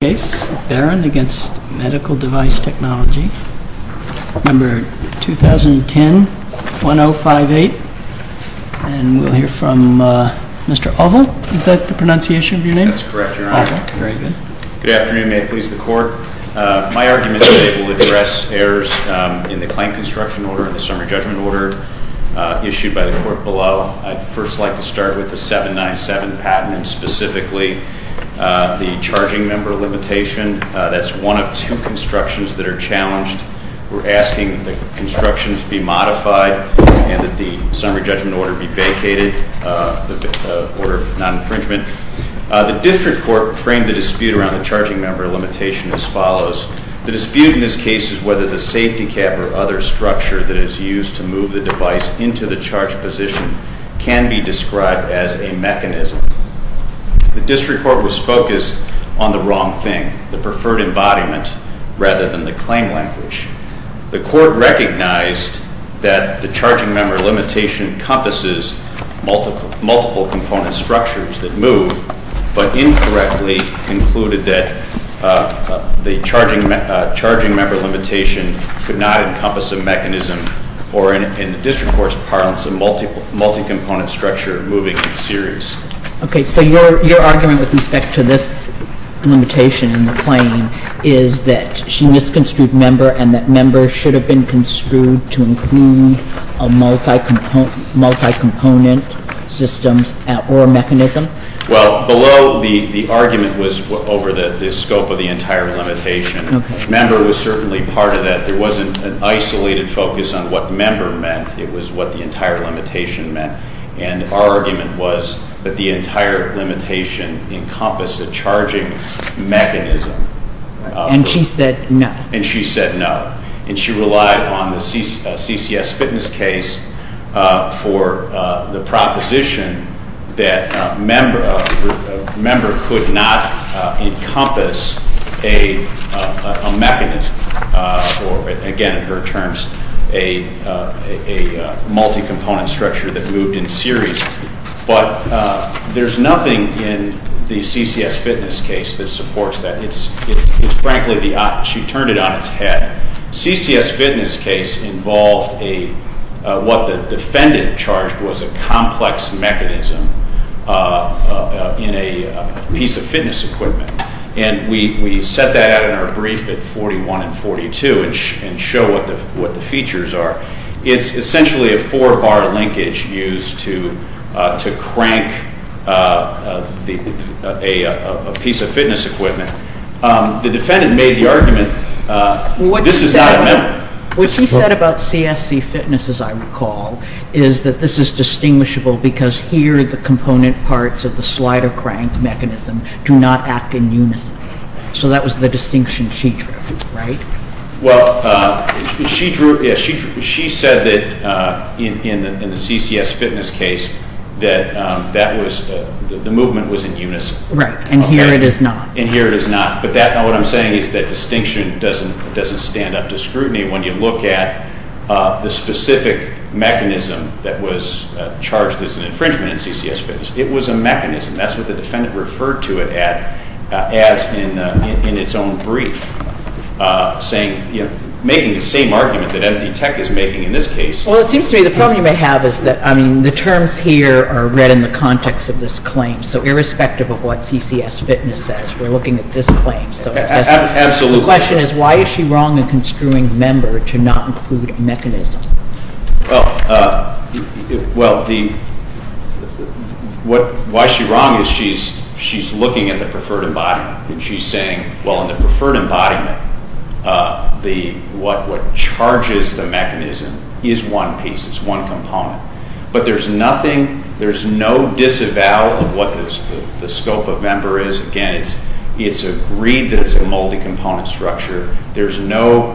Case, Baran v. Medical Device Technology, No. 2010-1058. And we'll hear from Mr. Alva. Is that the pronunciation of your name? That's correct, Your Honor. Alva. Very good. Good afternoon. May it please the Court? My argument today will address errors in the claim construction order and the summary judgment order issued by the Court below. I'd first like to start with the 797 patent and specifically the charging member limitation. That's one of two constructions that are challenged. We're asking that the constructions be modified and that the summary judgment order be vacated, the order of non-infringement. The District Court framed the dispute around the charging member limitation as follows. The dispute in this case is whether the safety cap or other structure that is used to move the device into the charged position can be described as a mechanism. The District Court was focused on the wrong thing, the preferred embodiment, rather than the claim language. The Court recognized that the charging member limitation encompasses multiple component structures that move, but incorrectly concluded that the charging member limitation could not encompass a mechanism or, in the District Court's parlance, a multi-component structure moving in series. Okay. So your argument with respect to this limitation in the claim is that she misconstrued member and that member should have been construed to include a multi-component system or mechanism? Well, below the argument was over the scope of the entire limitation. Member was certainly part of that. There wasn't an isolated focus on what member meant. It was what the entire limitation meant. And our argument was that the entire limitation encompassed a charging mechanism. And she said no. And she said no. And she relied on the CCS Fitness case for the proposition that member could not encompass a mechanism or, again in her terms, a multi-component structure that moved in series. But there's nothing in the CCS Fitness case that supports that. It's frankly the opposite. She turned it on its head. CCS Fitness case involved what the defendant charged was a complex mechanism in a piece of fitness equipment. And we set that out in our brief at 41 and 42 and show what the features are. It's essentially a four-bar linkage used to crank a piece of fitness equipment. The defendant made the point that CCS Fitness, as I recall, is that this is distinguishable because here the component parts of the slider crank mechanism do not act in unison. So that was the distinction she drew, right? Well, she said that in the CCS Fitness case that the movement was in unison. Right. And here it is not. And here it is not. But what I'm saying is that distinction doesn't stand up to the specific mechanism that was charged as an infringement in CCS Fitness. It was a mechanism. That's what the defendant referred to it as in its own brief, saying, you know, making the same argument that Empty Tech is making in this case. Well, it seems to me the problem you may have is that, I mean, the terms here are read in the context of this claim. So irrespective of what CCS Fitness says, we're looking at this claim. Absolutely. So the question is, why is she wrong in construing member to not include mechanism? Well, why she's wrong is she's looking at the preferred embodiment. And she's saying, well, in the preferred embodiment, what charges the mechanism is one piece. It's one component. But there's nothing, there's no disavowal of what the scope of member is. Again, it's agreed that it's a multi-component structure. There's no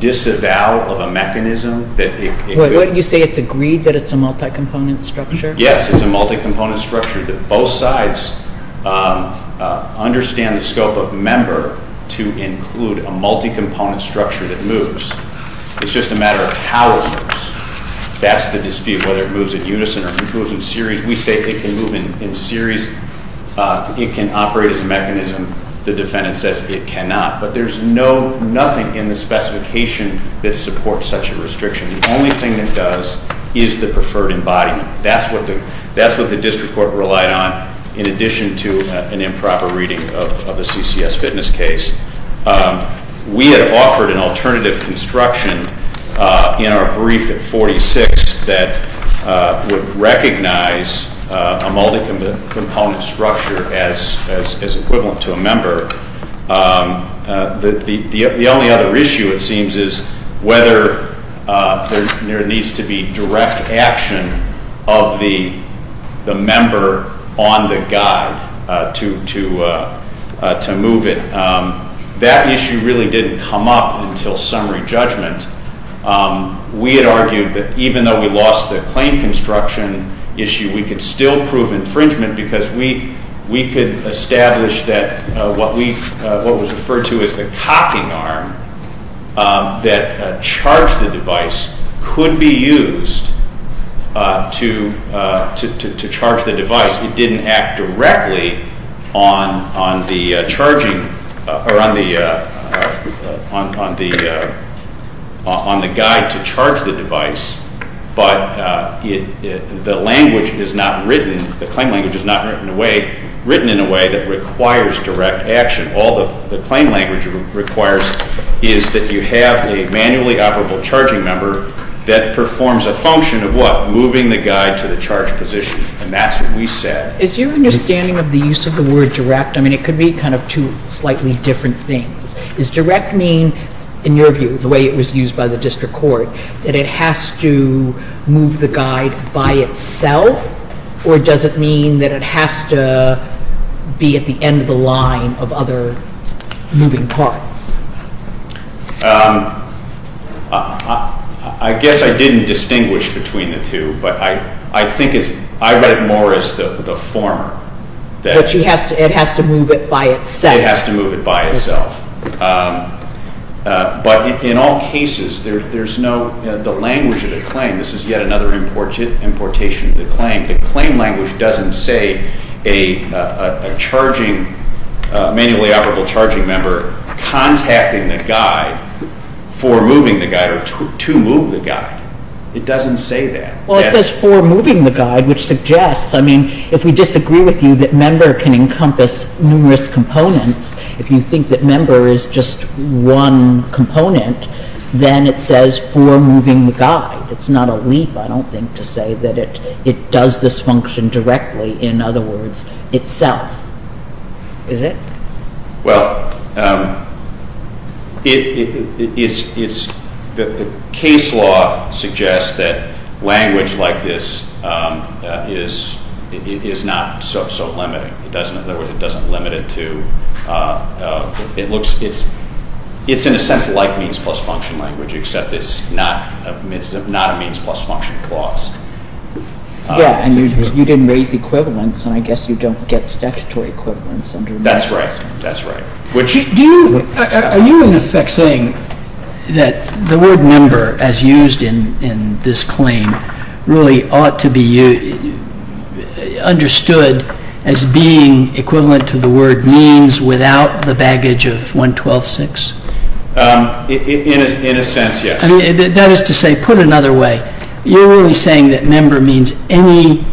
disavowal of a mechanism. Wait, what did you say? It's agreed that it's a multi-component structure? Yes, it's a multi-component structure that both sides understand the scope of member to include a multi-component structure that moves. It's just a matter of how it moves. That's the dispute, whether it moves in unison or it moves in series. We say it can move in series. It can operate as a mechanism. The defendant says it cannot. But there's no, nothing in the specification that supports such a restriction. The only thing that does is the preferred embodiment. That's what the district court relied on in addition to an improper reading of a CCS Fitness case. We had offered an alternative construction in our brief at 46 that would recognize a multi-component structure as equivalent to a member. The only other issue it seems is whether there needs to be direct action of the member on the guide to move it. That issue really didn't come up until summary judgment. We had argued that even though we lost the claim construction issue, we could still prove infringement because we could establish that what was referred to as the cocking arm that charged the device could be used to charge the device. It didn't act directly on the guide to charge the device, but the language is not written, the claim language is not written in a way that requires direct action. All the claim language requires is that you have a manually operable charging member that performs a function of what? Moving the guide to the charged position. And that's what we said. Is your understanding of the use of the word direct, I mean it could be kind of two slightly different things. Does direct mean, in your view, the way it was used by the district court, that it has to move the guide by itself, or does it mean that it has to be at the end of the line of other moving parts? I guess I didn't distinguish between the two, but I think it's, I read it more as the former. But it has to move it by itself. It has to move it by itself. But in all cases, there's no, the language of the claim, this is yet another importation of the claim, the claim language doesn't say a charging, manually operable charging member contacting the guide for moving the guide or to move the guide. It doesn't say that. Well, it says for moving the guide, which suggests, I mean, if we disagree with you that member can encompass numerous components, if you think that member is just one component, then it says for moving the guide. It's not a leap, I don't think, to say that it does this function directly, in other words, itself. Is it? Well, it's, the case law suggests that language like this is not so limiting. It doesn't, in other words, it doesn't limit it to, it looks, it's in a sense like means plus function language, except it's not a means plus function clause. Yeah, and you didn't raise equivalence, and I guess you don't get statutory equivalence under this. That's right, that's right. Do you, are you in effect saying that the word member, as used in this claim, really ought to be understood as being equivalent to the word means without the baggage of 112.6? In a sense, yes. I mean, that is to say, put another way, you're really saying that member means any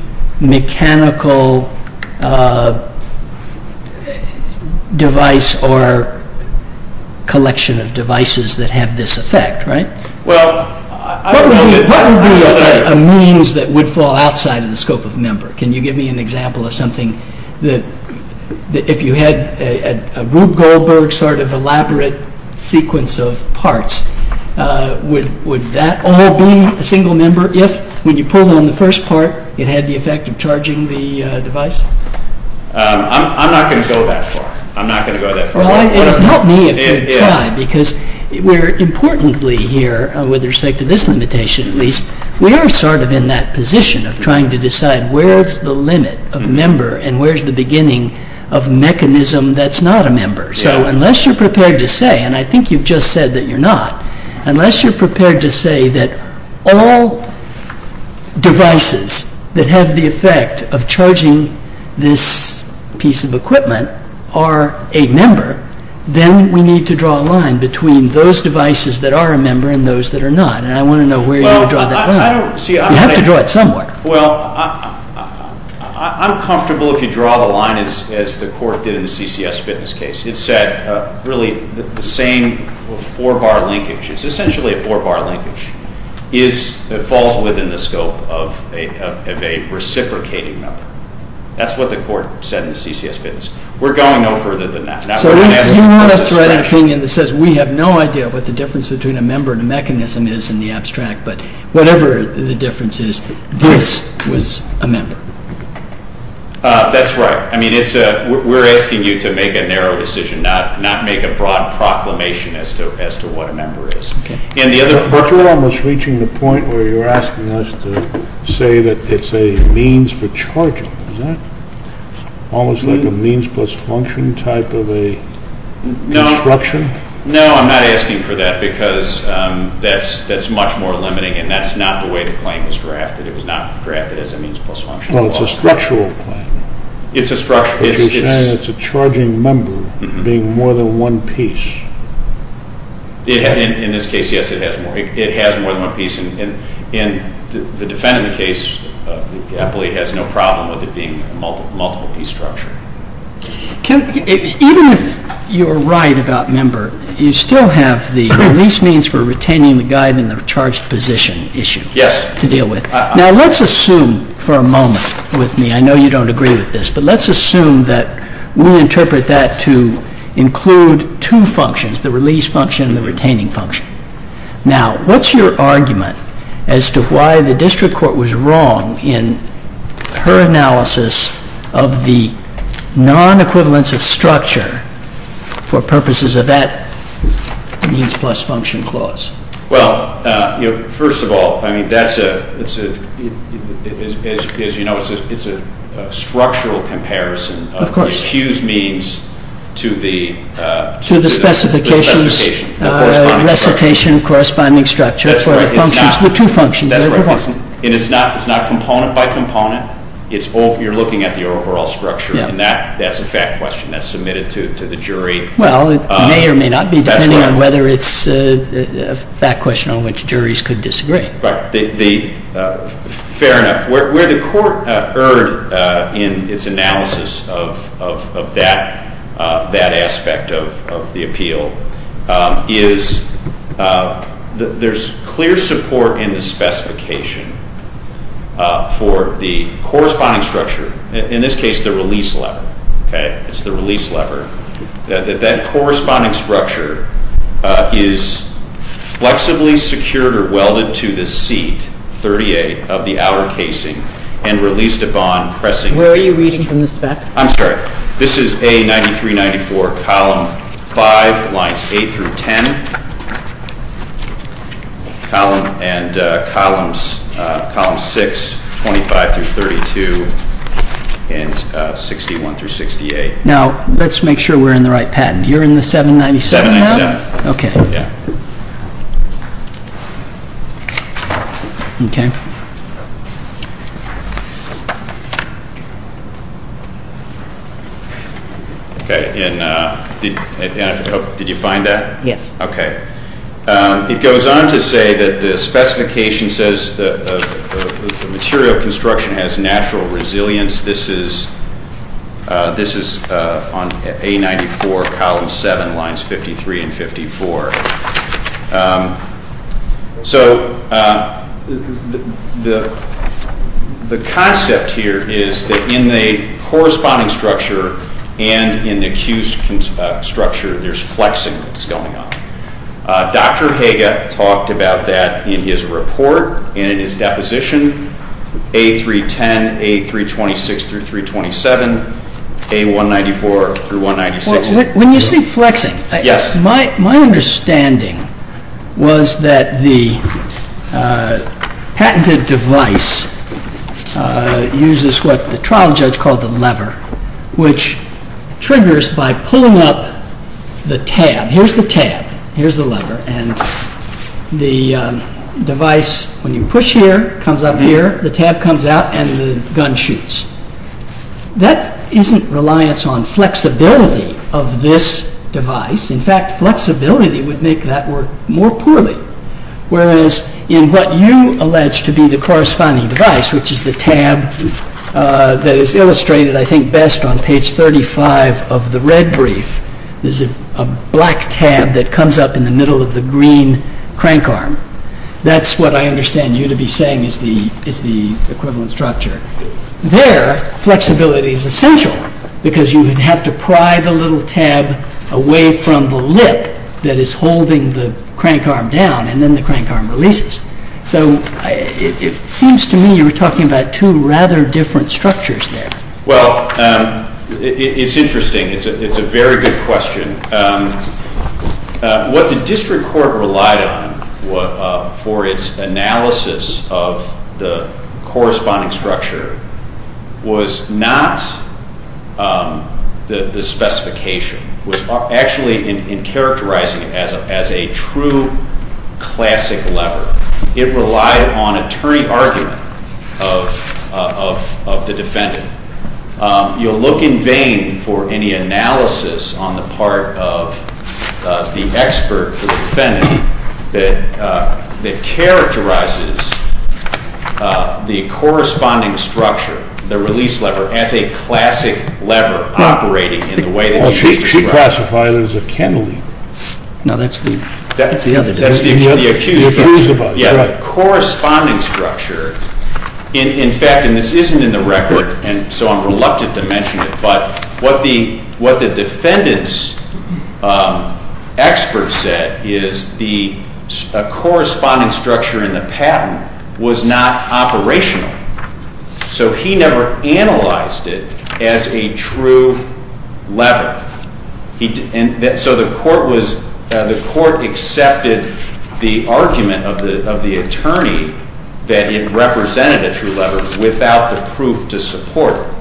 mechanical device or collection of devices that have this effect, right? Well, I don't know, what would be a means that would fall outside of the scope of member? Can you give me an example of something that, if you had a Rube Goldberg sort of elaborate sequence of parts, would that all be a single member if, when you pulled on the first part, it had the effect of charging the device? I'm not going to go that far. I'm not going to go that far. Well, it would help me if you would try, because we're importantly here, with respect to this limitation at least, we are sort of in that position of trying to decide where's the limit of member and where's the beginning of mechanism that's not a member. So unless you're prepared to say, and I think you've just said that you're not, unless you're prepared to say that all devices that have the effect of charging this piece of equipment are a member, then we need to draw a line between those devices that are a member and those that are not. And I want to know where you would draw that line. You have to draw it somewhere. Well, I'm comfortable if you draw the line as the court did in the CCS fitness case. It said really the same four-bar linkage. It's essentially a four-bar linkage. It falls within the scope of a reciprocating member. That's what the court said in the CCS fitness. We're going no further than that. So you want us to write an opinion that says we have no idea what the difference between a member and a mechanism is in the abstract, but whatever the difference is, this was a member. That's right. I mean, we're asking you to make a narrow decision, not make a broad proclamation as to what a member is. Okay. But you're almost reaching the point where you're asking us to say that it's a means for charging. Is that almost like a means plus function type of a construction? No, I'm not asking for that because that's much more limiting, and that's not the way the claim was drafted. It was not drafted as a means plus function. Well, it's a structural claim. It's a structure. But you're saying it's a charging member being more than one piece. In this case, yes, it has more than one piece, and the defendant in the case, Eppley, has no problem with it being a multiple-piece structure. Even if you're right about member, you still have the release means for retaining the guide and the charged position issue to deal with. Yes. Now, let's assume for a moment with me, I know you don't agree with this, but let's assume that we interpret that to include two functions, the release function and the retaining function. Now, what's your argument as to why the district court was wrong in her analysis of the non-equivalence of structure for purposes of that means plus function clause? Well, first of all, as you know, it's a structural comparison. Of course. To the specifications, recitation, corresponding structure for the functions, the two functions. That's right. And it's not component by component. You're looking at the overall structure, and that's a fact question that's submitted to the jury. Well, it may or may not be, depending on whether it's a fact question on which juries could disagree. Right. Fair enough. Where the court erred in its analysis of that aspect of the appeal is there's clear support in the specification for the corresponding structure. In this case, the release lever. Okay. It's the release lever. That corresponding structure is flexibly secured or welded to the seat 38 of the outer casing and released upon pressing. Where are you reading from the spec? I'm sorry. This is A 9394, column 5, lines 8 through 10, column 6, 25 through 32, and 61 through 68. Now, let's make sure we're in the right patent. You're in the 797 now? 797. Okay. Yeah. Okay. And did you find that? Yes. Okay. It goes on to say that the specification says the material construction has natural resilience. This is on A94, column 7, lines 53 and 54. So the concept here is that in the corresponding structure and in the accused structure, there's flexing that's going on. Dr. Haga talked about that in his report and in his deposition, A310, A326 through 327, A194 through 196. When you say flexing, my understanding was that the patented device uses what the trial judge called the lever, which triggers by pulling up the tab. Here's the tab. Here's the lever. And the device, when you push here, comes up here, the tab comes out, and the gun shoots. That isn't reliance on flexibility of this device. In fact, flexibility would make that work more poorly, whereas in what you allege to be the corresponding device, which is the tab that is illustrated, I think, best on page 35 of the red brief, there's a black tab that comes up in the middle of the green crank arm. That's what I understand you to be saying is the equivalent structure. There, flexibility is essential because you would have to pry the little tab away from the lip that is holding the crank arm down, and then the crank arm releases. So it seems to me you were talking about two rather different structures there. Well, it's interesting. It's a very good question. What the district court relied on for its analysis of the corresponding structure was not the specification. It was actually in characterizing it as a true classic lever. It relied on a turning argument of the defendant. You'll look in vain for any analysis on the part of the expert or defendant that characterizes the corresponding structure, the release lever, as a classic lever operating in the way that it is described. She classified it as a cantilever. No, that's the other definition. That's the accused version. You're confused about it. Yeah, the corresponding structure, in fact, and this isn't in the record, and so I'm reluctant to mention it, but what the defendant's expert said is the corresponding structure in the patent was not operational. So he never analyzed it as a true lever. So the court accepted the argument of the attorney that it represented a true lever without the proof to support it.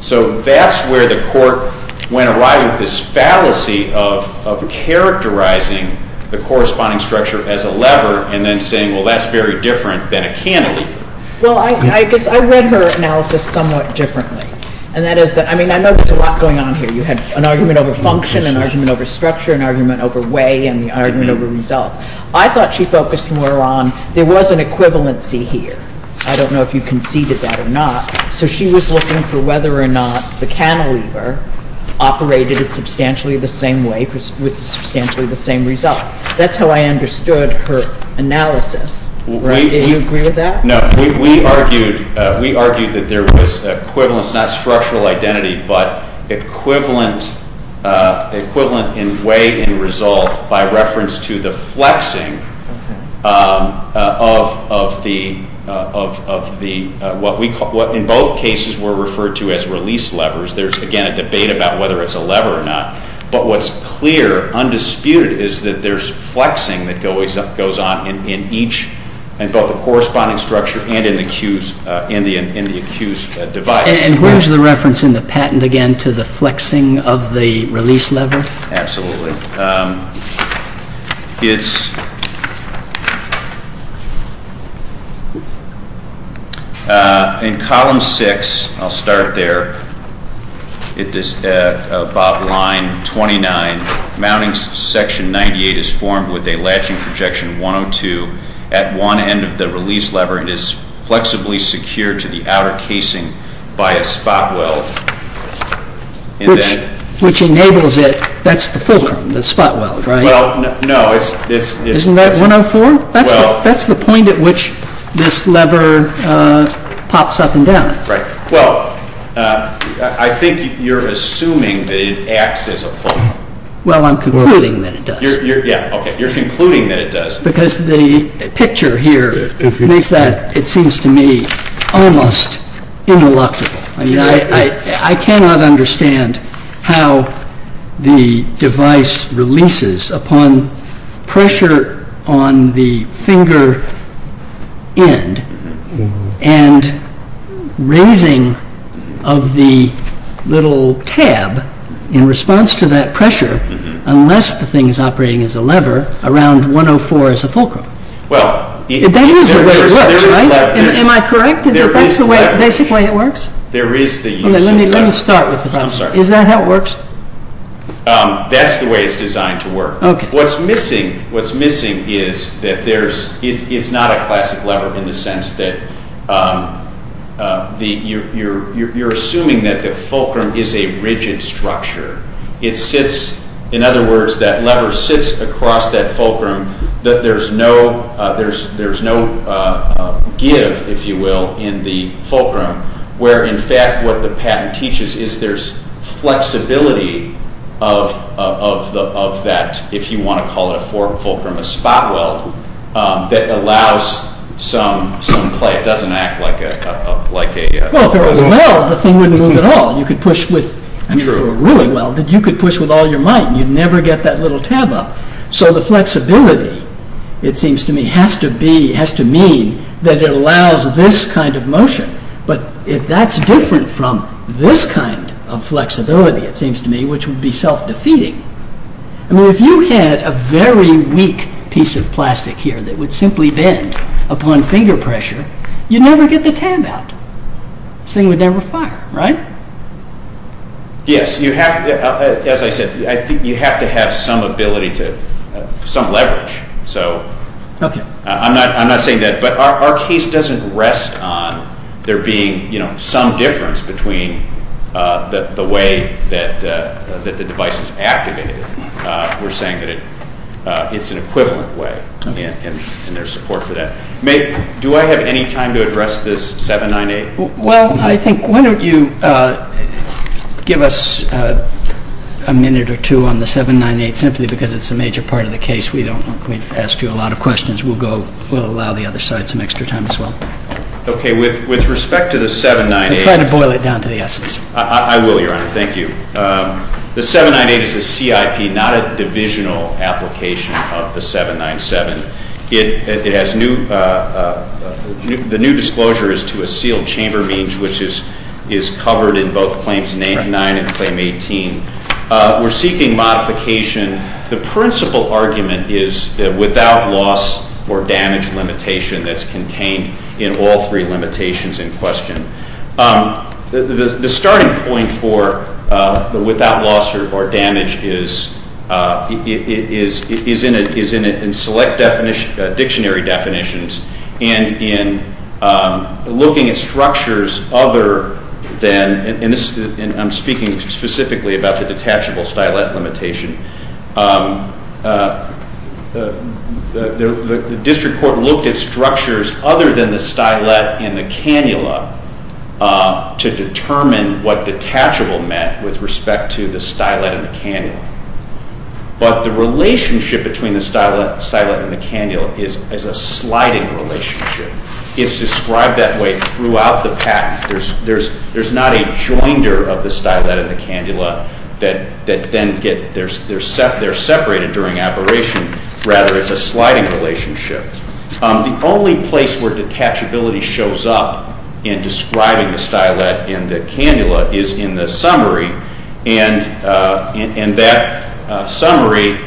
So that's where the court went awry with this fallacy of characterizing the corresponding structure as a lever and then saying, well, that's very different than a cantilever. Well, I guess I read her analysis somewhat differently, and that is that, I mean, I know there's a lot going on here. You had an argument over function, an argument over structure, an argument over way, and the argument over result. I thought she focused more on there was an equivalency here. I don't know if you conceded that or not. So she was looking for whether or not the cantilever operated substantially the same way with substantially the same result. That's how I understood her analysis. Do you agree with that? No. We argued that there was equivalence, not structural identity, but equivalent in way and result by reference to the flexing of what in both cases were referred to as release levers. There's, again, a debate about whether it's a lever or not, but what's clear, undisputed, is that there's flexing that goes on in each, in both the corresponding structure and in the accused device. And where's the reference in the patent, again, to the flexing of the release lever? Absolutely. It's in column six. I'll start there. It is about line 29. Mounting section 98 is formed with a latching projection 102. At one end of the release lever, it is flexibly secured to the outer casing by a spot weld. Which enables it. That's the fulcrum, the spot weld, right? Well, no. Isn't that 104? That's the point at which this lever pops up and down. Right. Well, I think you're assuming that it acts as a fulcrum. Well, I'm concluding that it does. Yeah, okay. You're concluding that it does. Because the picture here makes that, it seems to me, almost ineluctable. I cannot understand how the device releases upon pressure on the finger end and raising of the little tab in response to that pressure, unless the thing is operating as a lever, around 104 as a fulcrum. Well, there is a lever. Am I correct in that that's the basic way it works? There is. Let me start with the problem. I'm sorry. Is that how it works? That's the way it's designed to work. Okay. What's missing is that it's not a classic lever, in the sense that you're assuming that the fulcrum is a rigid structure. In other words, that lever sits across that fulcrum. There's no give, if you will, in the fulcrum, where, in fact, what the patent teaches is there's flexibility of that, if you want to call it a fulcrum, a spot weld that allows some play. It doesn't act like a... Well, if there was a weld, the thing wouldn't move at all. You could push with... True. If it were really welded, you could push with all your might, and you'd never get that little tab up. So the flexibility, it seems to me, has to mean that it allows this kind of motion. But if that's different from this kind of flexibility, it seems to me, which would be self-defeating... I mean, if you had a very weak piece of plastic here that would simply bend upon finger pressure, you'd never get the tab out. This thing would never fire, right? Yes. As I said, I think you have to have some ability to... some leverage. Okay. I'm not saying that. But our case doesn't rest on there being some difference between the way that the device is activated. We're saying that it's an equivalent way, and there's support for that. Do I have any time to address this 798? Well, I think... why don't you give us a minute or two on the 798, simply because it's a major part of the case. We've asked you a lot of questions. We'll allow the other side some extra time as well. Okay. With respect to the 798... Try to boil it down to the essence. I will, Your Honor. Thank you. The 798 is a CIP, not a divisional application of the 797. It has new... the new disclosure is to a sealed chamber means, which is covered in both Claims 9 and Claim 18. We're seeking modification. The principal argument is that without loss or damage limitation that's contained in all three limitations in question. The starting point for the without loss or damage is in select dictionary definitions and in looking at structures other than... and I'm speaking specifically about the detachable stylet limitation. The district court looked at structures other than the stylet and the cannula to determine what detachable meant with respect to the stylet and the cannula. But the relationship between the stylet and the cannula is a sliding relationship. It's described that way throughout the patent. There's not a joinder of the stylet and the cannula that then get... they're separated during operation. Rather, it's a sliding relationship. The only place where detachability shows up in describing the stylet and the cannula is in the summary, and that summary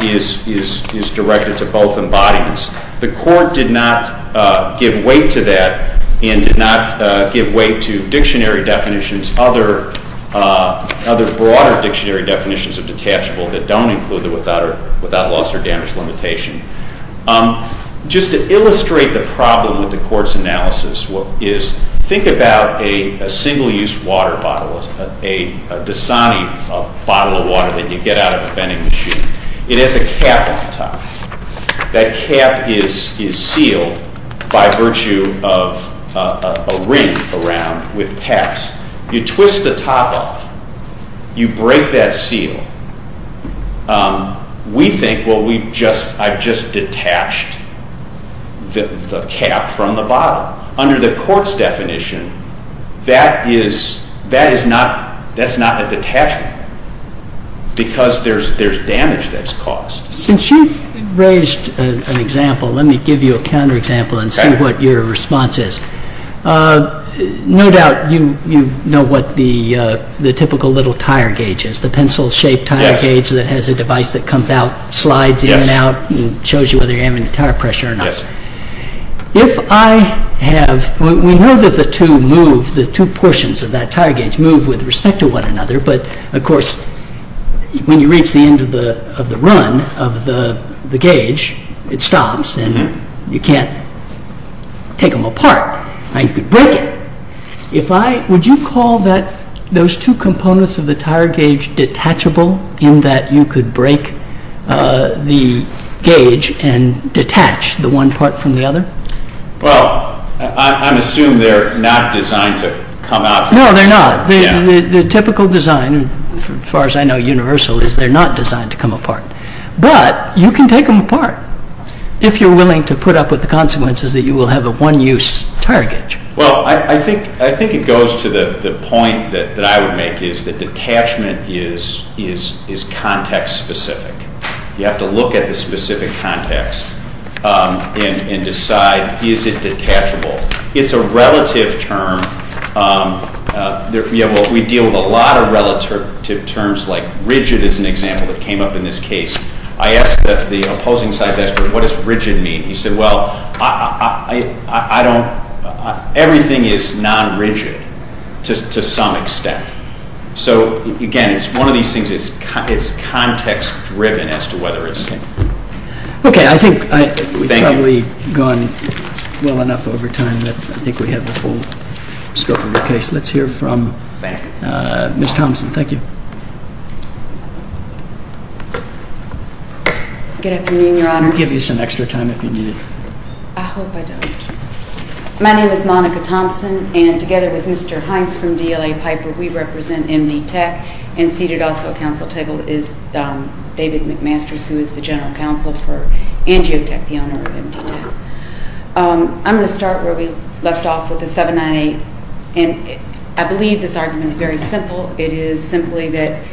is directed to both embodiments. The court did not give weight to that and did not give weight to dictionary definitions, other broader dictionary definitions of detachable that don't include the without loss or damage limitation. Just to illustrate the problem with the court's analysis is think about a single-use water bottle, a Dasani bottle of water that you get out of a vending machine. It has a cap on top. That cap is sealed by virtue of a ring around with caps. You twist the top off. You break that seal. We think, well, I've just detached the cap from the bottle. Under the court's definition, that is not a detachable because there's damage that's caused. Since you've raised an example, let me give you a counterexample and see what your response is. No doubt you know what the typical little tire gauge is, the pencil-shaped tire gauge that has a device that comes out, slides in and out, and shows you whether you're having tire pressure or not. We know that the two portions of that tire gauge move with respect to one another, but, of course, when you reach the end of the run of the gauge, it stops and you can't take them apart. Now, you could break it. Would you call those two components of the tire gauge detachable in that you could break the gauge and detach the one part from the other? Well, I'm assuming they're not designed to come out. No, they're not. The typical design, as far as I know, universal, is they're not designed to come apart. But you can take them apart if you're willing to put up with the consequences that you will have a one-use tire gauge. Well, I think it goes to the point that I would make, is that detachment is context-specific. You have to look at the specific context and decide, is it detachable? It's a relative term. We deal with a lot of relative terms, like rigid is an example that came up in this case. I asked the opposing side's expert, what does rigid mean? He said, well, everything is non-rigid to some extent. So, again, it's one of these things. It's context-driven as to whether it's. Okay, I think we've probably gone well enough over time that I think we have the full scope of the case. Let's hear from Ms. Thompson. Thank you. Good afternoon, Your Honors. I'll give you some extra time if you need it. I hope I don't. My name is Monica Thompson, and together with Mr. Hines from DLA Piper, we represent MD Tech. And seated also at council table is David McMasters, who is the general counsel for Angiotech, the owner of MD Tech. I'm going to start where we left off with the 798. And I believe this argument is very simple. It is simply that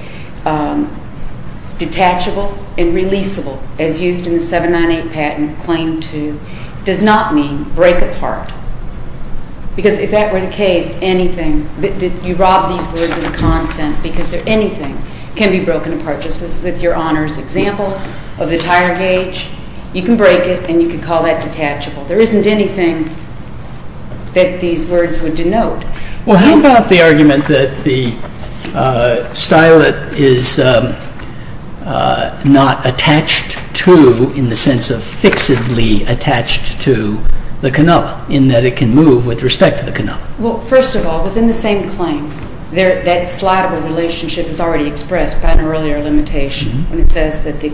detachable and releasable, as used in the 798 patent claim to, does not mean break apart. Because if that were the case, anything, you rob these words of content, because anything can be broken apart. Just with Your Honors' example of the tire gauge, you can break it and you can call that detachable. There isn't anything that these words would denote. Well, how about the argument that the stylet is not attached to, in the sense of fixedly attached to, the cannula, in that it can move with respect to the cannula? Well, first of all, within the same claim, that slidable relationship is already expressed by an earlier limitation. It says that the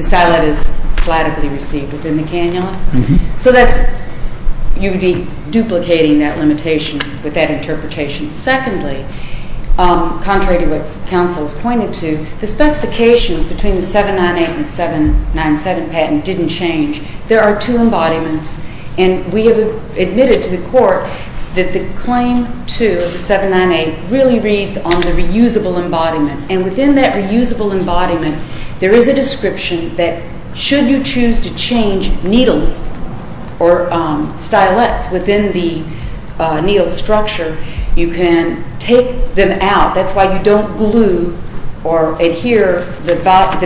stylet is slidably received within the cannula. So you would be duplicating that limitation with that interpretation. Secondly, contrary to what counsel has pointed to, the specifications between the 798 and the 797 patent didn't change. There are two embodiments. And we have admitted to the Court that the claim to the 798 really reads on the reusable embodiment. And within that reusable embodiment, there is a description that should you choose to change needles or stylets within the needle structure, you can take them out. That's why you don't glue or adhere the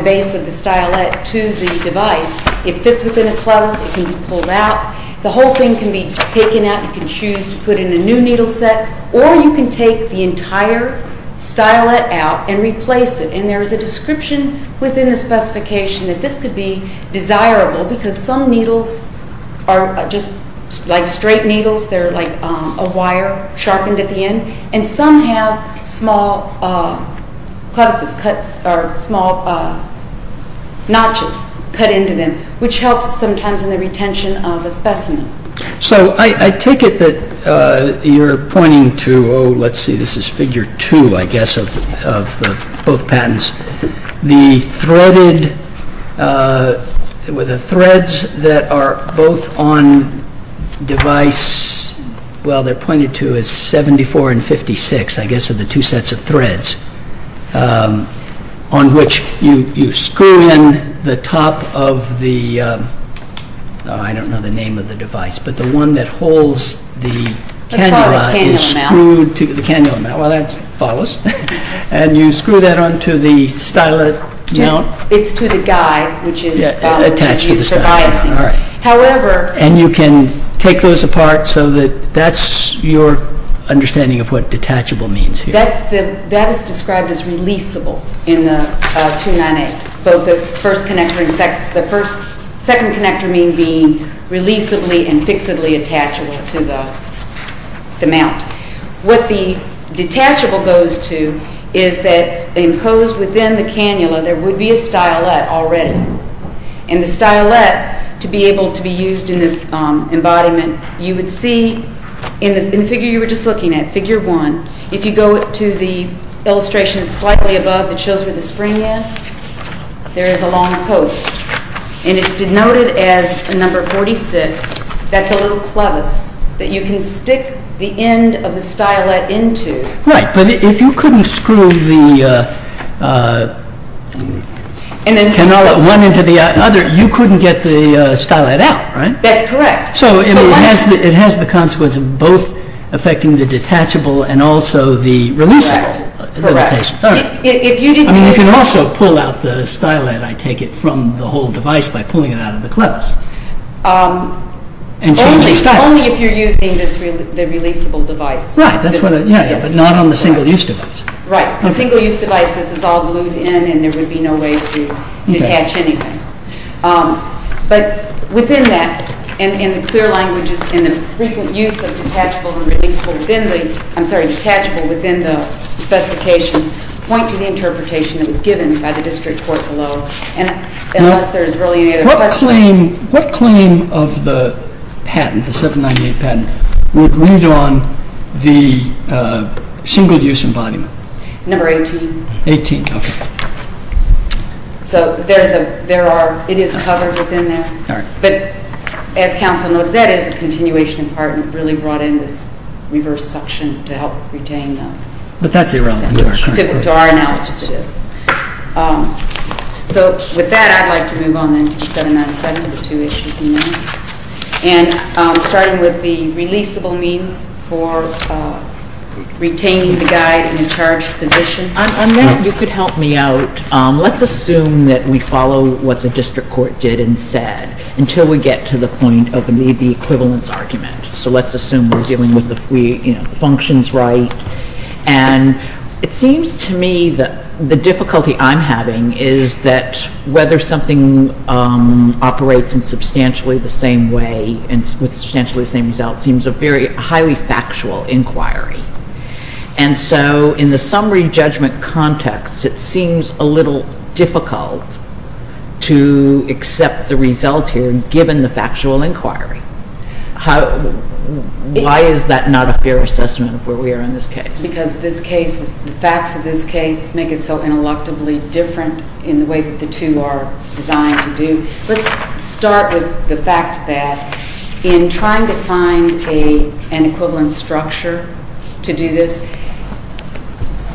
base of the stylet to the device. It fits within a close. It can be pulled out. The whole thing can be taken out. You can choose to put in a new needle set. Or you can take the entire stylet out and replace it. And there is a description within the specification that this could be desirable because some needles are just like straight needles. They're like a wire sharpened at the end. And some have small notches cut into them, which helps sometimes in the retention of a specimen. So I take it that you're pointing to, oh, let's see, this is figure two, I guess, of both patents. The threads that are both on device, well, they're pointed to as 74 and 56, I guess, of the two sets of threads. On which you screw in the top of the, I don't know the name of the device, but the one that holds the cannula is screwed to the cannula mount. Well, that follows. And you screw that onto the stylet mount. It's to the guide, which is used for biasing. And you can take those apart so that that's your understanding of what detachable means here. That is described as releasable in the 298. Both the first connector and the second connector being releasably and fixably attachable to the mount. What the detachable goes to is that imposed within the cannula, there would be a stylet already. And the stylet, to be able to be used in this embodiment, you would see in the figure you were just looking at, figure one, if you go to the illustration slightly above that shows where the spring is, there is a long post. And it's denoted as number 46. That's a little clevis that you can stick the end of the stylet into. Right. But if you couldn't screw the cannula one into the other, you couldn't get the stylet out, right? That's correct. So it has the consequence of both affecting the detachable and also the releasable limitations. Correct. You can also pull out the stylet, I take it, from the whole device by pulling it out of the clevis. Only if you're using the releasable device. Right, but not on the single-use device. Right. The single-use device, this is all glued in and there would be no way to detach anything. But within that, in the clear languages, in the frequent use of detachable and releasable, I'm sorry, detachable within the specifications point to the interpretation that was given by the district court below. Unless there is really any other question. What claim of the patent, the 798 patent, would read on the single-use embodiment? Number 18. 18, okay. So there is a, there are, it is covered within there. All right. But as counsel noted, that is a continuation of part that really brought in this reverse suction to help retain them. But that's irrelevant. To our analysis it is. So with that, I'd like to move on then to the 797, the two issues in there. And starting with the releasable means for retaining the guide in a charged position. On that, you could help me out. Let's assume that we follow what the district court did and said until we get to the point of the equivalence argument. So let's assume we're dealing with the functions right. And it seems to me that the difficulty I'm having is that whether something operates in substantially the same way and with substantially the same result seems a very highly factual inquiry. And so in the summary judgment context, it seems a little difficult to accept the result here given the factual inquiry. How, why is that not a fair assessment of where we are in this case? Because this case, the facts of this case make it so intellectually different in the way that the two are designed to do. Let's start with the fact that in trying to find an equivalent structure to do this,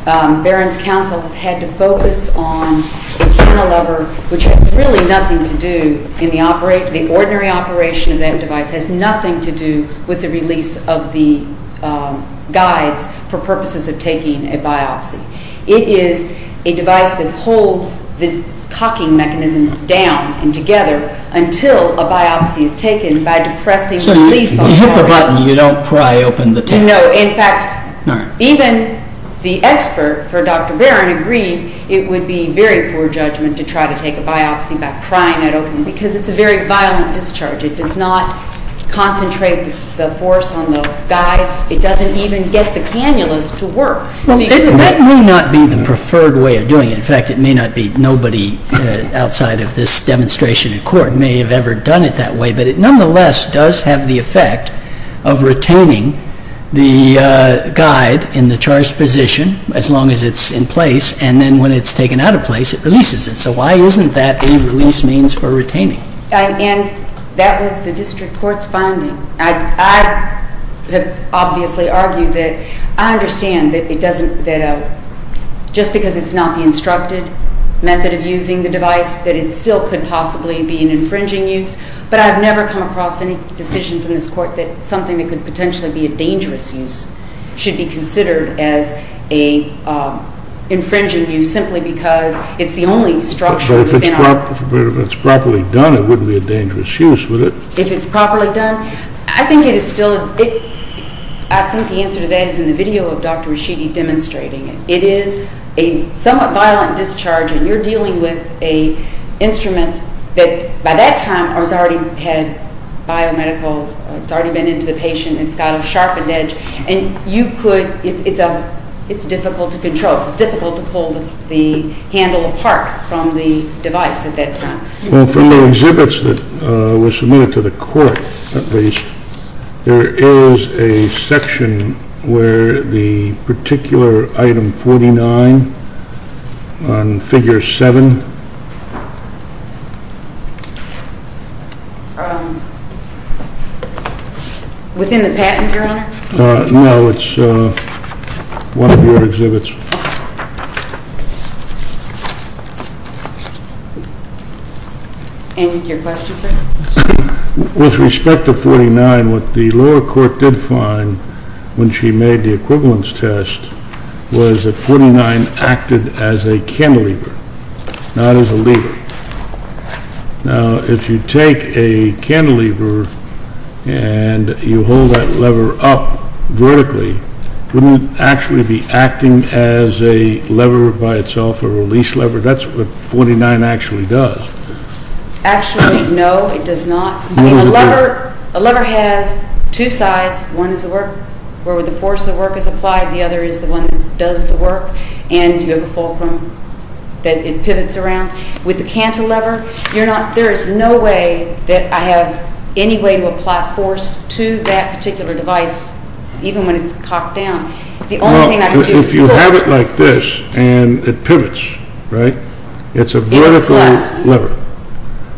Barron's counsel has had to focus on the cantilever, which has really nothing to do in the ordinary operation of that device. It has nothing to do with the release of the guides for purposes of taking a biopsy. It is a device that holds the cocking mechanism down and together until a biopsy is taken by depressing the release. So you hit the button, you don't pry open the tip. No, in fact, even the expert for Dr. Barron agreed it would be very poor judgment to try to take a biopsy by prying it open because it's a very violent discharge. It does not concentrate the force on the guides. It doesn't even get the cannulas to work. Well, that may not be the preferred way of doing it. In fact, it may not be. Nobody outside of this demonstration in court may have ever done it that way. But it nonetheless does have the effect of retaining the guide in the charged position as long as it's in place. And then when it's taken out of place, it releases it. So why isn't that a release means for retaining? And that was the district court's finding. I have obviously argued that I understand that just because it's not the instructed method of using the device, that it still could possibly be an infringing use. But I've never come across any decision from this court that something that could potentially be a dangerous use should be considered as an infringing use simply because it's the only structure within our- But if it's properly done, it wouldn't be a dangerous use, would it? If it's properly done? I think the answer to that is in the video of Dr. Rashidi demonstrating it. It is a somewhat violent discharge, and you're dealing with an instrument that by that time has already had biomedical- it's already been into the patient, it's got a sharpened edge, and you could- it's difficult to control. It's difficult to pull the handle apart from the device at that time. Well, from the exhibits that were submitted to the court, at least, there is a section where the particular item 49 on figure 7- Within the patent, Your Honor? No, it's one of your exhibits. End of your question, sir? With respect to 49, what the lower court did find when she made the equivalence test was that 49 acted as a cantilever, not as a lever. Now, if you take a cantilever and you hold that lever up vertically, wouldn't it actually be acting as a lever by itself, a release lever? That's what 49 actually does. Actually, no, it does not. I mean, a lever has two sides. One is where the force of work is applied, the other is the one that does the work, and you have a fulcrum that it pivots around. With the cantilever, there is no way that I have any way to apply force to that particular device, even when it's cocked down. If you have it like this and it pivots, it's a vertical lever,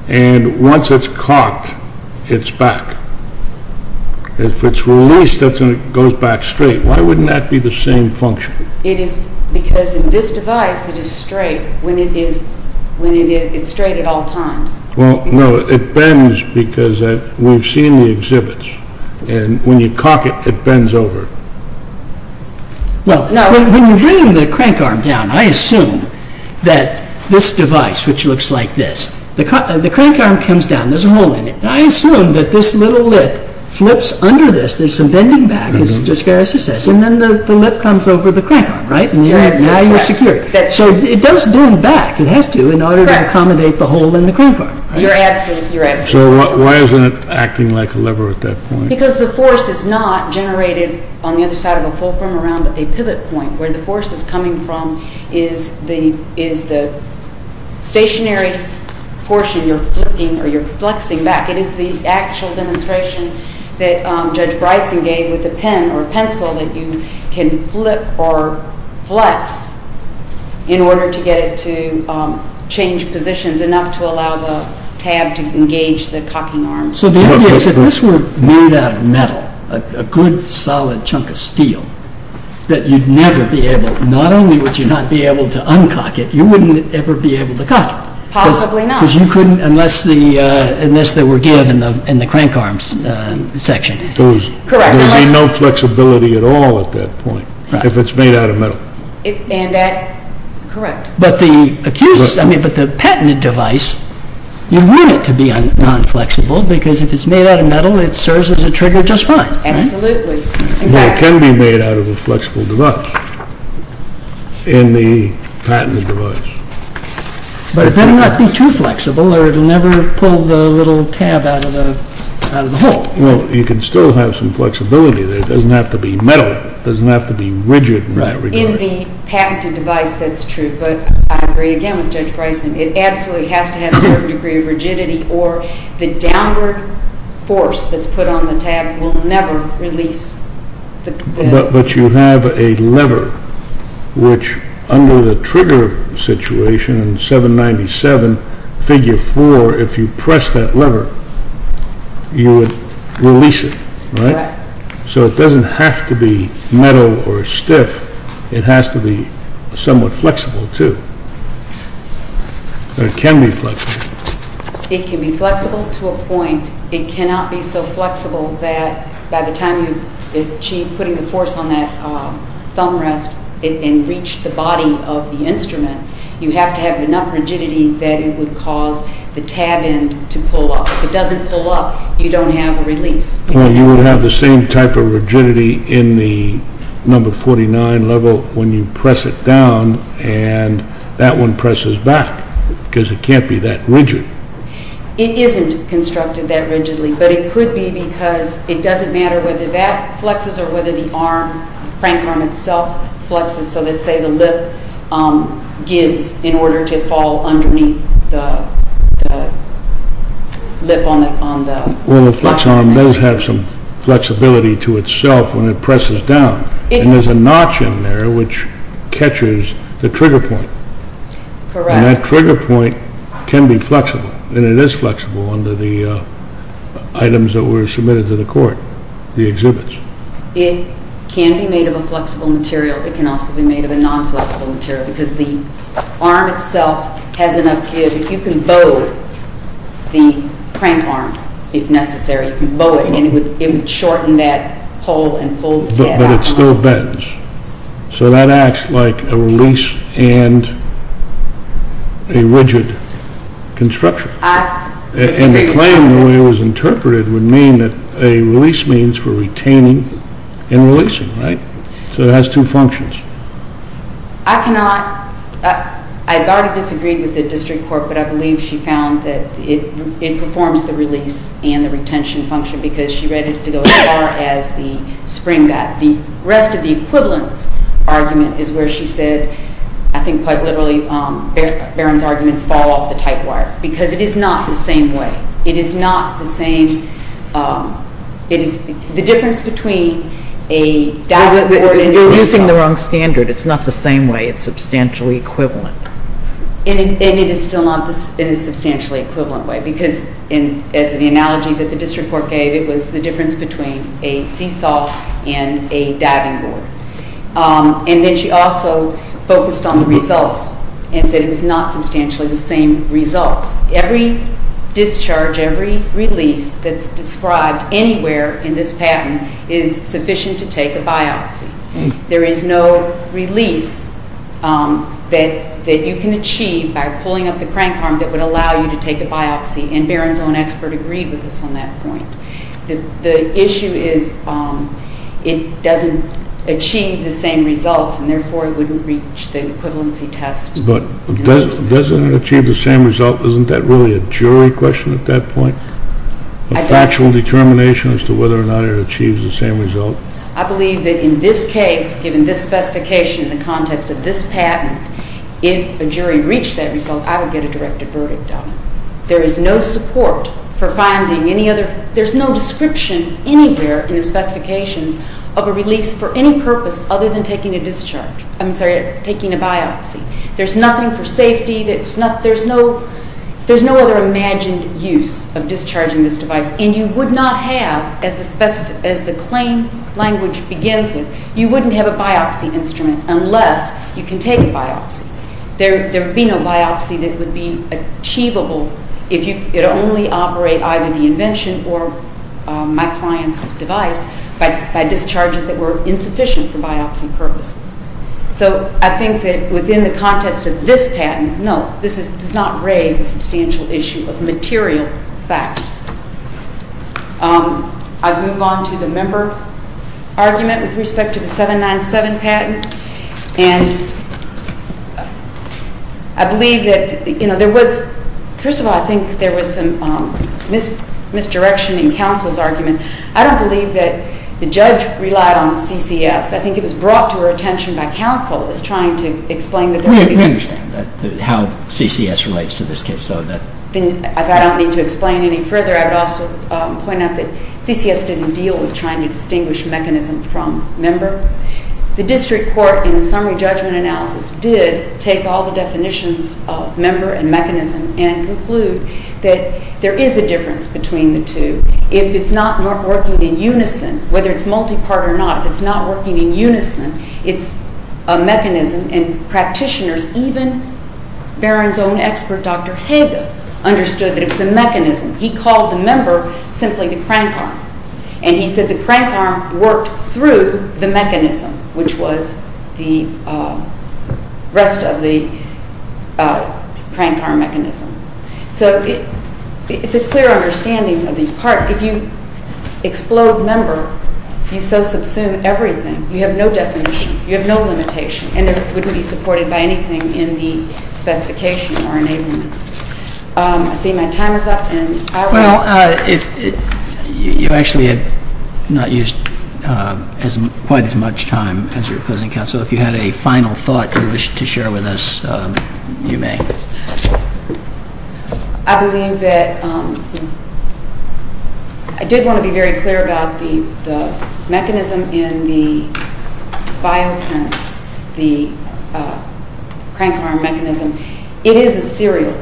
and once it's cocked, it's back. If it's released, it goes back straight. Why wouldn't that be the same function? Because in this device, it is straight at all times. Well, no, it bends because we've seen the exhibits, and when you cock it, it bends over. Well, now, when you're bringing the crank arm down, I assume that this device, which looks like this, the crank arm comes down, there's a hole in it, and I assume that this little lip flips under this, there's some bending back, as Judge Garrison says, and then the lip comes over the crank arm, right? And now you're secure. So it does bend back, it has to, in order to accommodate the hole in the crank arm. You're absolutely correct. So why isn't it acting like a lever at that point? Because the force is not generated on the other side of a fulcrum around a pivot point. Where the force is coming from is the stationary portion you're flicking or you're flexing back. It is the actual demonstration that Judge Bryson gave with a pen or a pencil that you can flip or flex in order to get it to change positions enough to allow the tab to engage the cocking arm. So the idea is if this were made out of metal, a good solid chunk of steel, that you'd never be able, not only would you not be able to uncock it, you wouldn't ever be able to cock it. Possibly not. Because you couldn't, unless they were given in the crank arms section. Correct. There would be no flexibility at all at that point if it's made out of metal. Correct. But the patented device, you want it to be non-flexible because if it's made out of metal, it serves as a trigger just fine. Absolutely. But it can be made out of a flexible device in the patented device. But it better not be too flexible or it will never pull the little tab out of the hole. Well, you can still have some flexibility there. It doesn't have to be metal. It doesn't have to be rigid in that regard. In the patented device, that's true. But I agree again with Judge Bryson. It absolutely has to have a certain degree of rigidity or the downward force that's put on the tab will never release. But you have a lever which, under the trigger situation in 797, figure 4, if you press that lever, you would release it, right? Correct. So it doesn't have to be metal or stiff. It has to be somewhat flexible too. But it can be flexible. It can be flexible to a point. It cannot be so flexible that by the time you achieve putting the force on that thumb rest and reach the body of the instrument, you have to have enough rigidity that it would cause the tab end to pull up. If it doesn't pull up, you don't have a release. Well, you would have the same type of rigidity in the number 49 level when you press it down and that one presses back because it can't be that rigid. It isn't constructed that rigidly. But it could be because it doesn't matter whether that flexes or whether the crank arm itself flexes, so let's say the lip gives in order to fall underneath the lip on the flex arm. Well, the flex arm does have some flexibility to itself when it presses down, and there's a notch in there which catches the trigger point. And that trigger point can be flexible, and it is flexible under the items that were submitted to the court, the exhibits. It can be made of a flexible material. It can also be made of a non-flexible material because the arm itself has enough give. If you can bow the crank arm, if necessary, you can bow it, and it would shorten that pull and pull the tab out. But it still bends. So that acts like a release and a rigid construction. And the claim, the way it was interpreted, would mean that a release means for retaining and releasing, right? So it has two functions. I cannot, I've already disagreed with the district court, but I believe she found that it performs the release and the retention function because she read it to go as far as the spring got. The rest of the equivalence argument is where she said, I think quite literally, Barron's arguments fall off the typewire because it is not the same way. It is not the same. It is the difference between a dagger or a seesaw. You're using the wrong standard. It's not the same way. It's substantially equivalent. And it is still not in a substantially equivalent way because, as in the analogy that the district court gave, it was the difference between a seesaw and a diving board. And then she also focused on the results and said it was not substantially the same results. Every discharge, every release that's described anywhere in this patent is sufficient to take a biopsy. There is no release that you can achieve by pulling up the crank arm that would allow you to take a biopsy, and Barron's own expert agreed with us on that point. The issue is it doesn't achieve the same results and therefore it wouldn't reach the equivalency test. But doesn't it achieve the same result? Isn't that really a jury question at that point, a factual determination as to whether or not it achieves the same result? I believe that in this case, given this specification in the context of this patent, if a jury reached that result, I would get a directed verdict on it. There is no support for finding any other... There's no description anywhere in the specifications of a release for any purpose other than taking a discharge. I'm sorry, taking a biopsy. There's nothing for safety. There's no other imagined use of discharging this device. And you would not have, as the claim language begins with, you wouldn't have a biopsy instrument unless you can take a biopsy. There would be no biopsy that would be achievable if it only operate either the invention or my client's device by discharges that were insufficient for biopsy purposes. So I think that within the context of this patent, no, this does not raise a substantial issue of material fact. I'll move on to the member argument with respect to the 797 patent. And I believe that, you know, there was, first of all, I think there was some misdirection in counsel's argument. I don't believe that the judge relied on CCS. I think it was brought to her attention by counsel as trying to explain... We understand how CCS relates to this case, so that... If I don't need to explain any further, I would also point out that CCS didn't deal with trying to distinguish mechanism from member. The district court in the summary judgment analysis did take all the definitions of member and mechanism and conclude that there is a difference between the two. If it's not working in unison, whether it's multi-part or not, if it's not working in unison, it's a mechanism. And practitioners, even Barron's own expert, Dr. Hager, understood that it's a mechanism. He called the member simply the crank arm. And he said the crank arm worked through the mechanism, which was the rest of the crank arm mechanism. So it's a clear understanding of these parts. If you explode member, you so subsume everything. You have no definition. You have no limitation. And it wouldn't be supported by anything in the specification or enablement. I see my time is up. Well, you actually have not used quite as much time as your opposing counsel. If you had a final thought you wish to share with us, you may. I believe that I did want to be very clear about the mechanism in the bioprints, the crank arm mechanism. It is a serial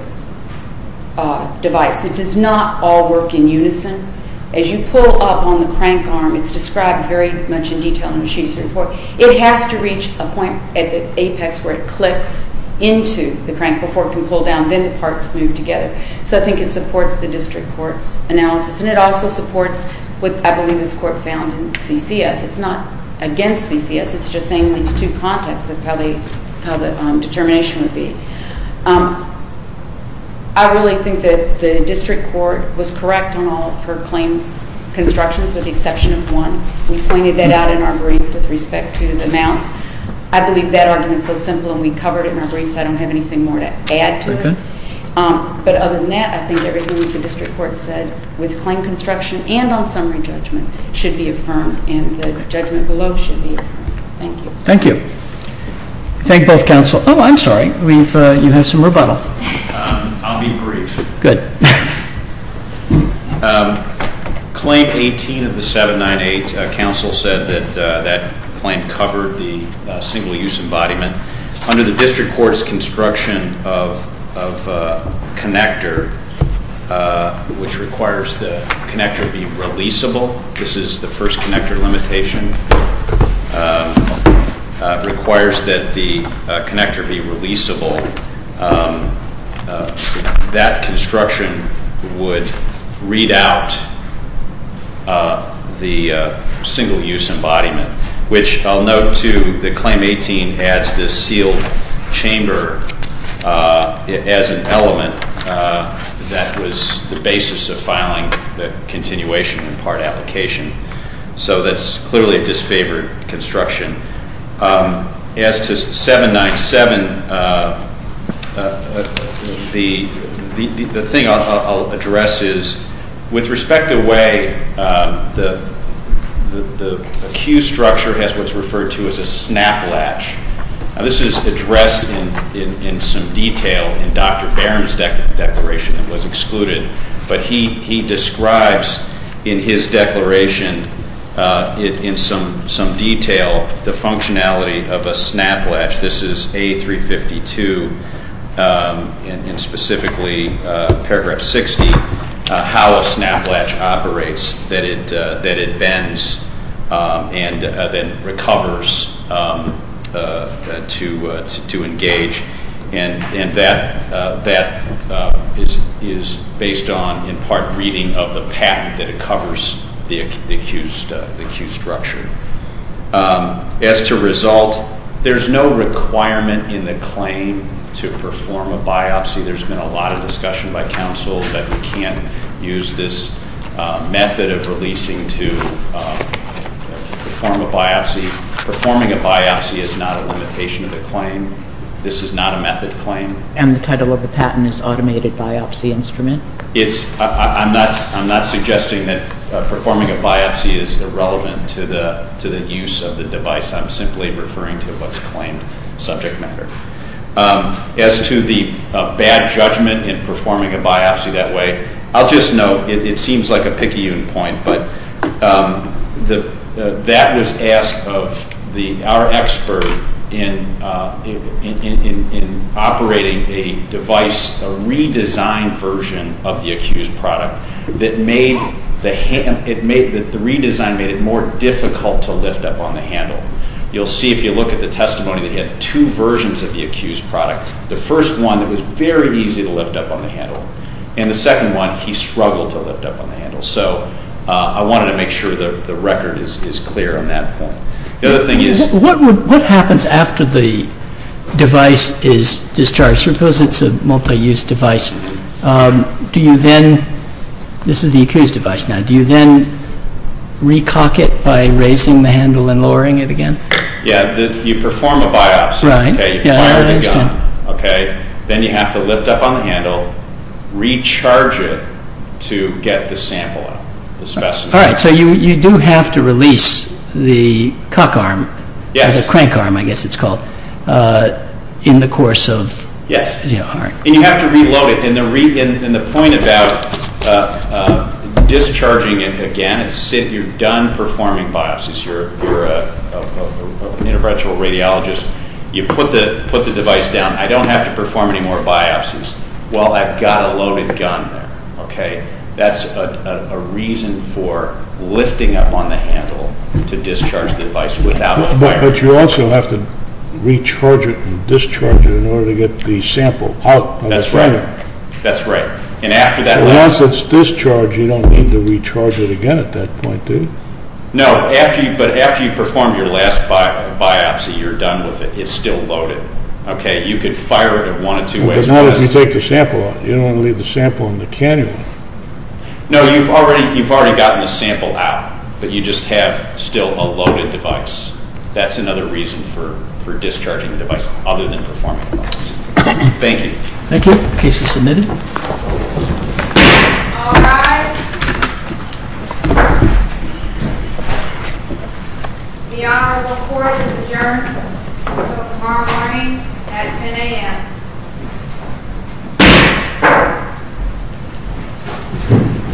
device. It does not all work in unison. As you pull up on the crank arm, it's described very much in detail in the machinist's report. It has to reach a point at the apex where it clicks into the crank before it can pull down. Then the parts move together. So I think it supports the district court's analysis. And it also supports what I believe is court found in CCS. It's not against CCS. It's just saying in these two contexts, that's how the determination would be. I really think that the district court was correct on all of her claim constructions with the exception of one. We pointed that out in our brief with respect to the mounts. I believe that argument is so simple and we covered it in our briefs. I don't have anything more to add to it. But other than that, I think everything that the district court said with claim construction and on summary judgment should be affirmed and the judgment below should be affirmed. Thank you. Thank you. Thank both counsel. Oh, I'm sorry. You have some rebuttal. I'll be brief. Good. Claim 18 of the 798, counsel said that that claim covered the single-use embodiment. Under the district court's construction of connector, which requires the connector be releasable. This is the first connector limitation. It requires that the connector be releasable. That construction would read out the single-use embodiment, which I'll note, too, that claim 18 adds this sealed chamber as an element that was the basis of filing the continuation and part application. So that's clearly a disfavored construction. As to 797, the thing I'll address is, with respect to way, the queue structure has what's referred to as a snap latch. Now, this is addressed in some detail in Dr. Barron's declaration. It was excluded. But he describes in his declaration in some detail the functionality of a snap latch. This is A352, and specifically paragraph 60, how a snap latch operates, that it bends and then recovers to engage. And that is based on, in part, reading of the patent that covers the queue structure. As to result, there's no requirement in the claim to perform a biopsy. There's been a lot of discussion by counsel that we can't use this method of releasing to perform a biopsy. Performing a biopsy is not a limitation of the claim. This is not a method claim. And the title of the patent is automated biopsy instrument? I'm not suggesting that performing a biopsy is irrelevant to the use of the device. I'm simply referring to what's claimed subject matter. As to the bad judgment in performing a biopsy that way, I'll just note, it seems like a picky point, but that was asked of our expert in operating a device, a redesigned version of the accused product, that the redesign made it more difficult to lift up on the handle. You'll see if you look at the testimony that he had two versions of the accused product. The first one, it was very easy to lift up on the handle. And the second one, he struggled to lift up on the handle. So I wanted to make sure that the record is clear on that point. The other thing is... What happens after the device is discharged? Suppose it's a multi-use device. Do you then, this is the accused device now, do you then re-cock it by raising the handle and lowering it again? Yeah, you perform a biopsy. Right, yeah, I understand. Then you have to lift up on the handle, recharge it to get the sample, the specimen. All right, so you do have to release the cock arm, the crank arm I guess it's called, in the course of... Yes. All right. And you have to reload it. And the point about discharging it again, you're done performing biopsies, you're an interventional radiologist, you put the device down, I don't have to perform any more biopsies. Well, I've got a loaded gun there, okay? That's a reason for lifting up on the handle to discharge the device without a fire. But you also have to recharge it and discharge it in order to get the sample out of the frame. That's right, that's right. And after that... Once it's discharged, you don't need to recharge it again at that point, do you? No, but after you perform your last biopsy, you're done with it, it's still loaded, okay? You could fire it in one of two ways. But not if you take the sample out. You don't want to leave the sample in the canyon. No, you've already gotten the sample out, but you just have still a loaded device. That's another reason for discharging the device other than performing biopsies. Thank you. Thank you. Case is submitted. All rise. The Honorable Court is adjourned until tomorrow morning at 10 a.m.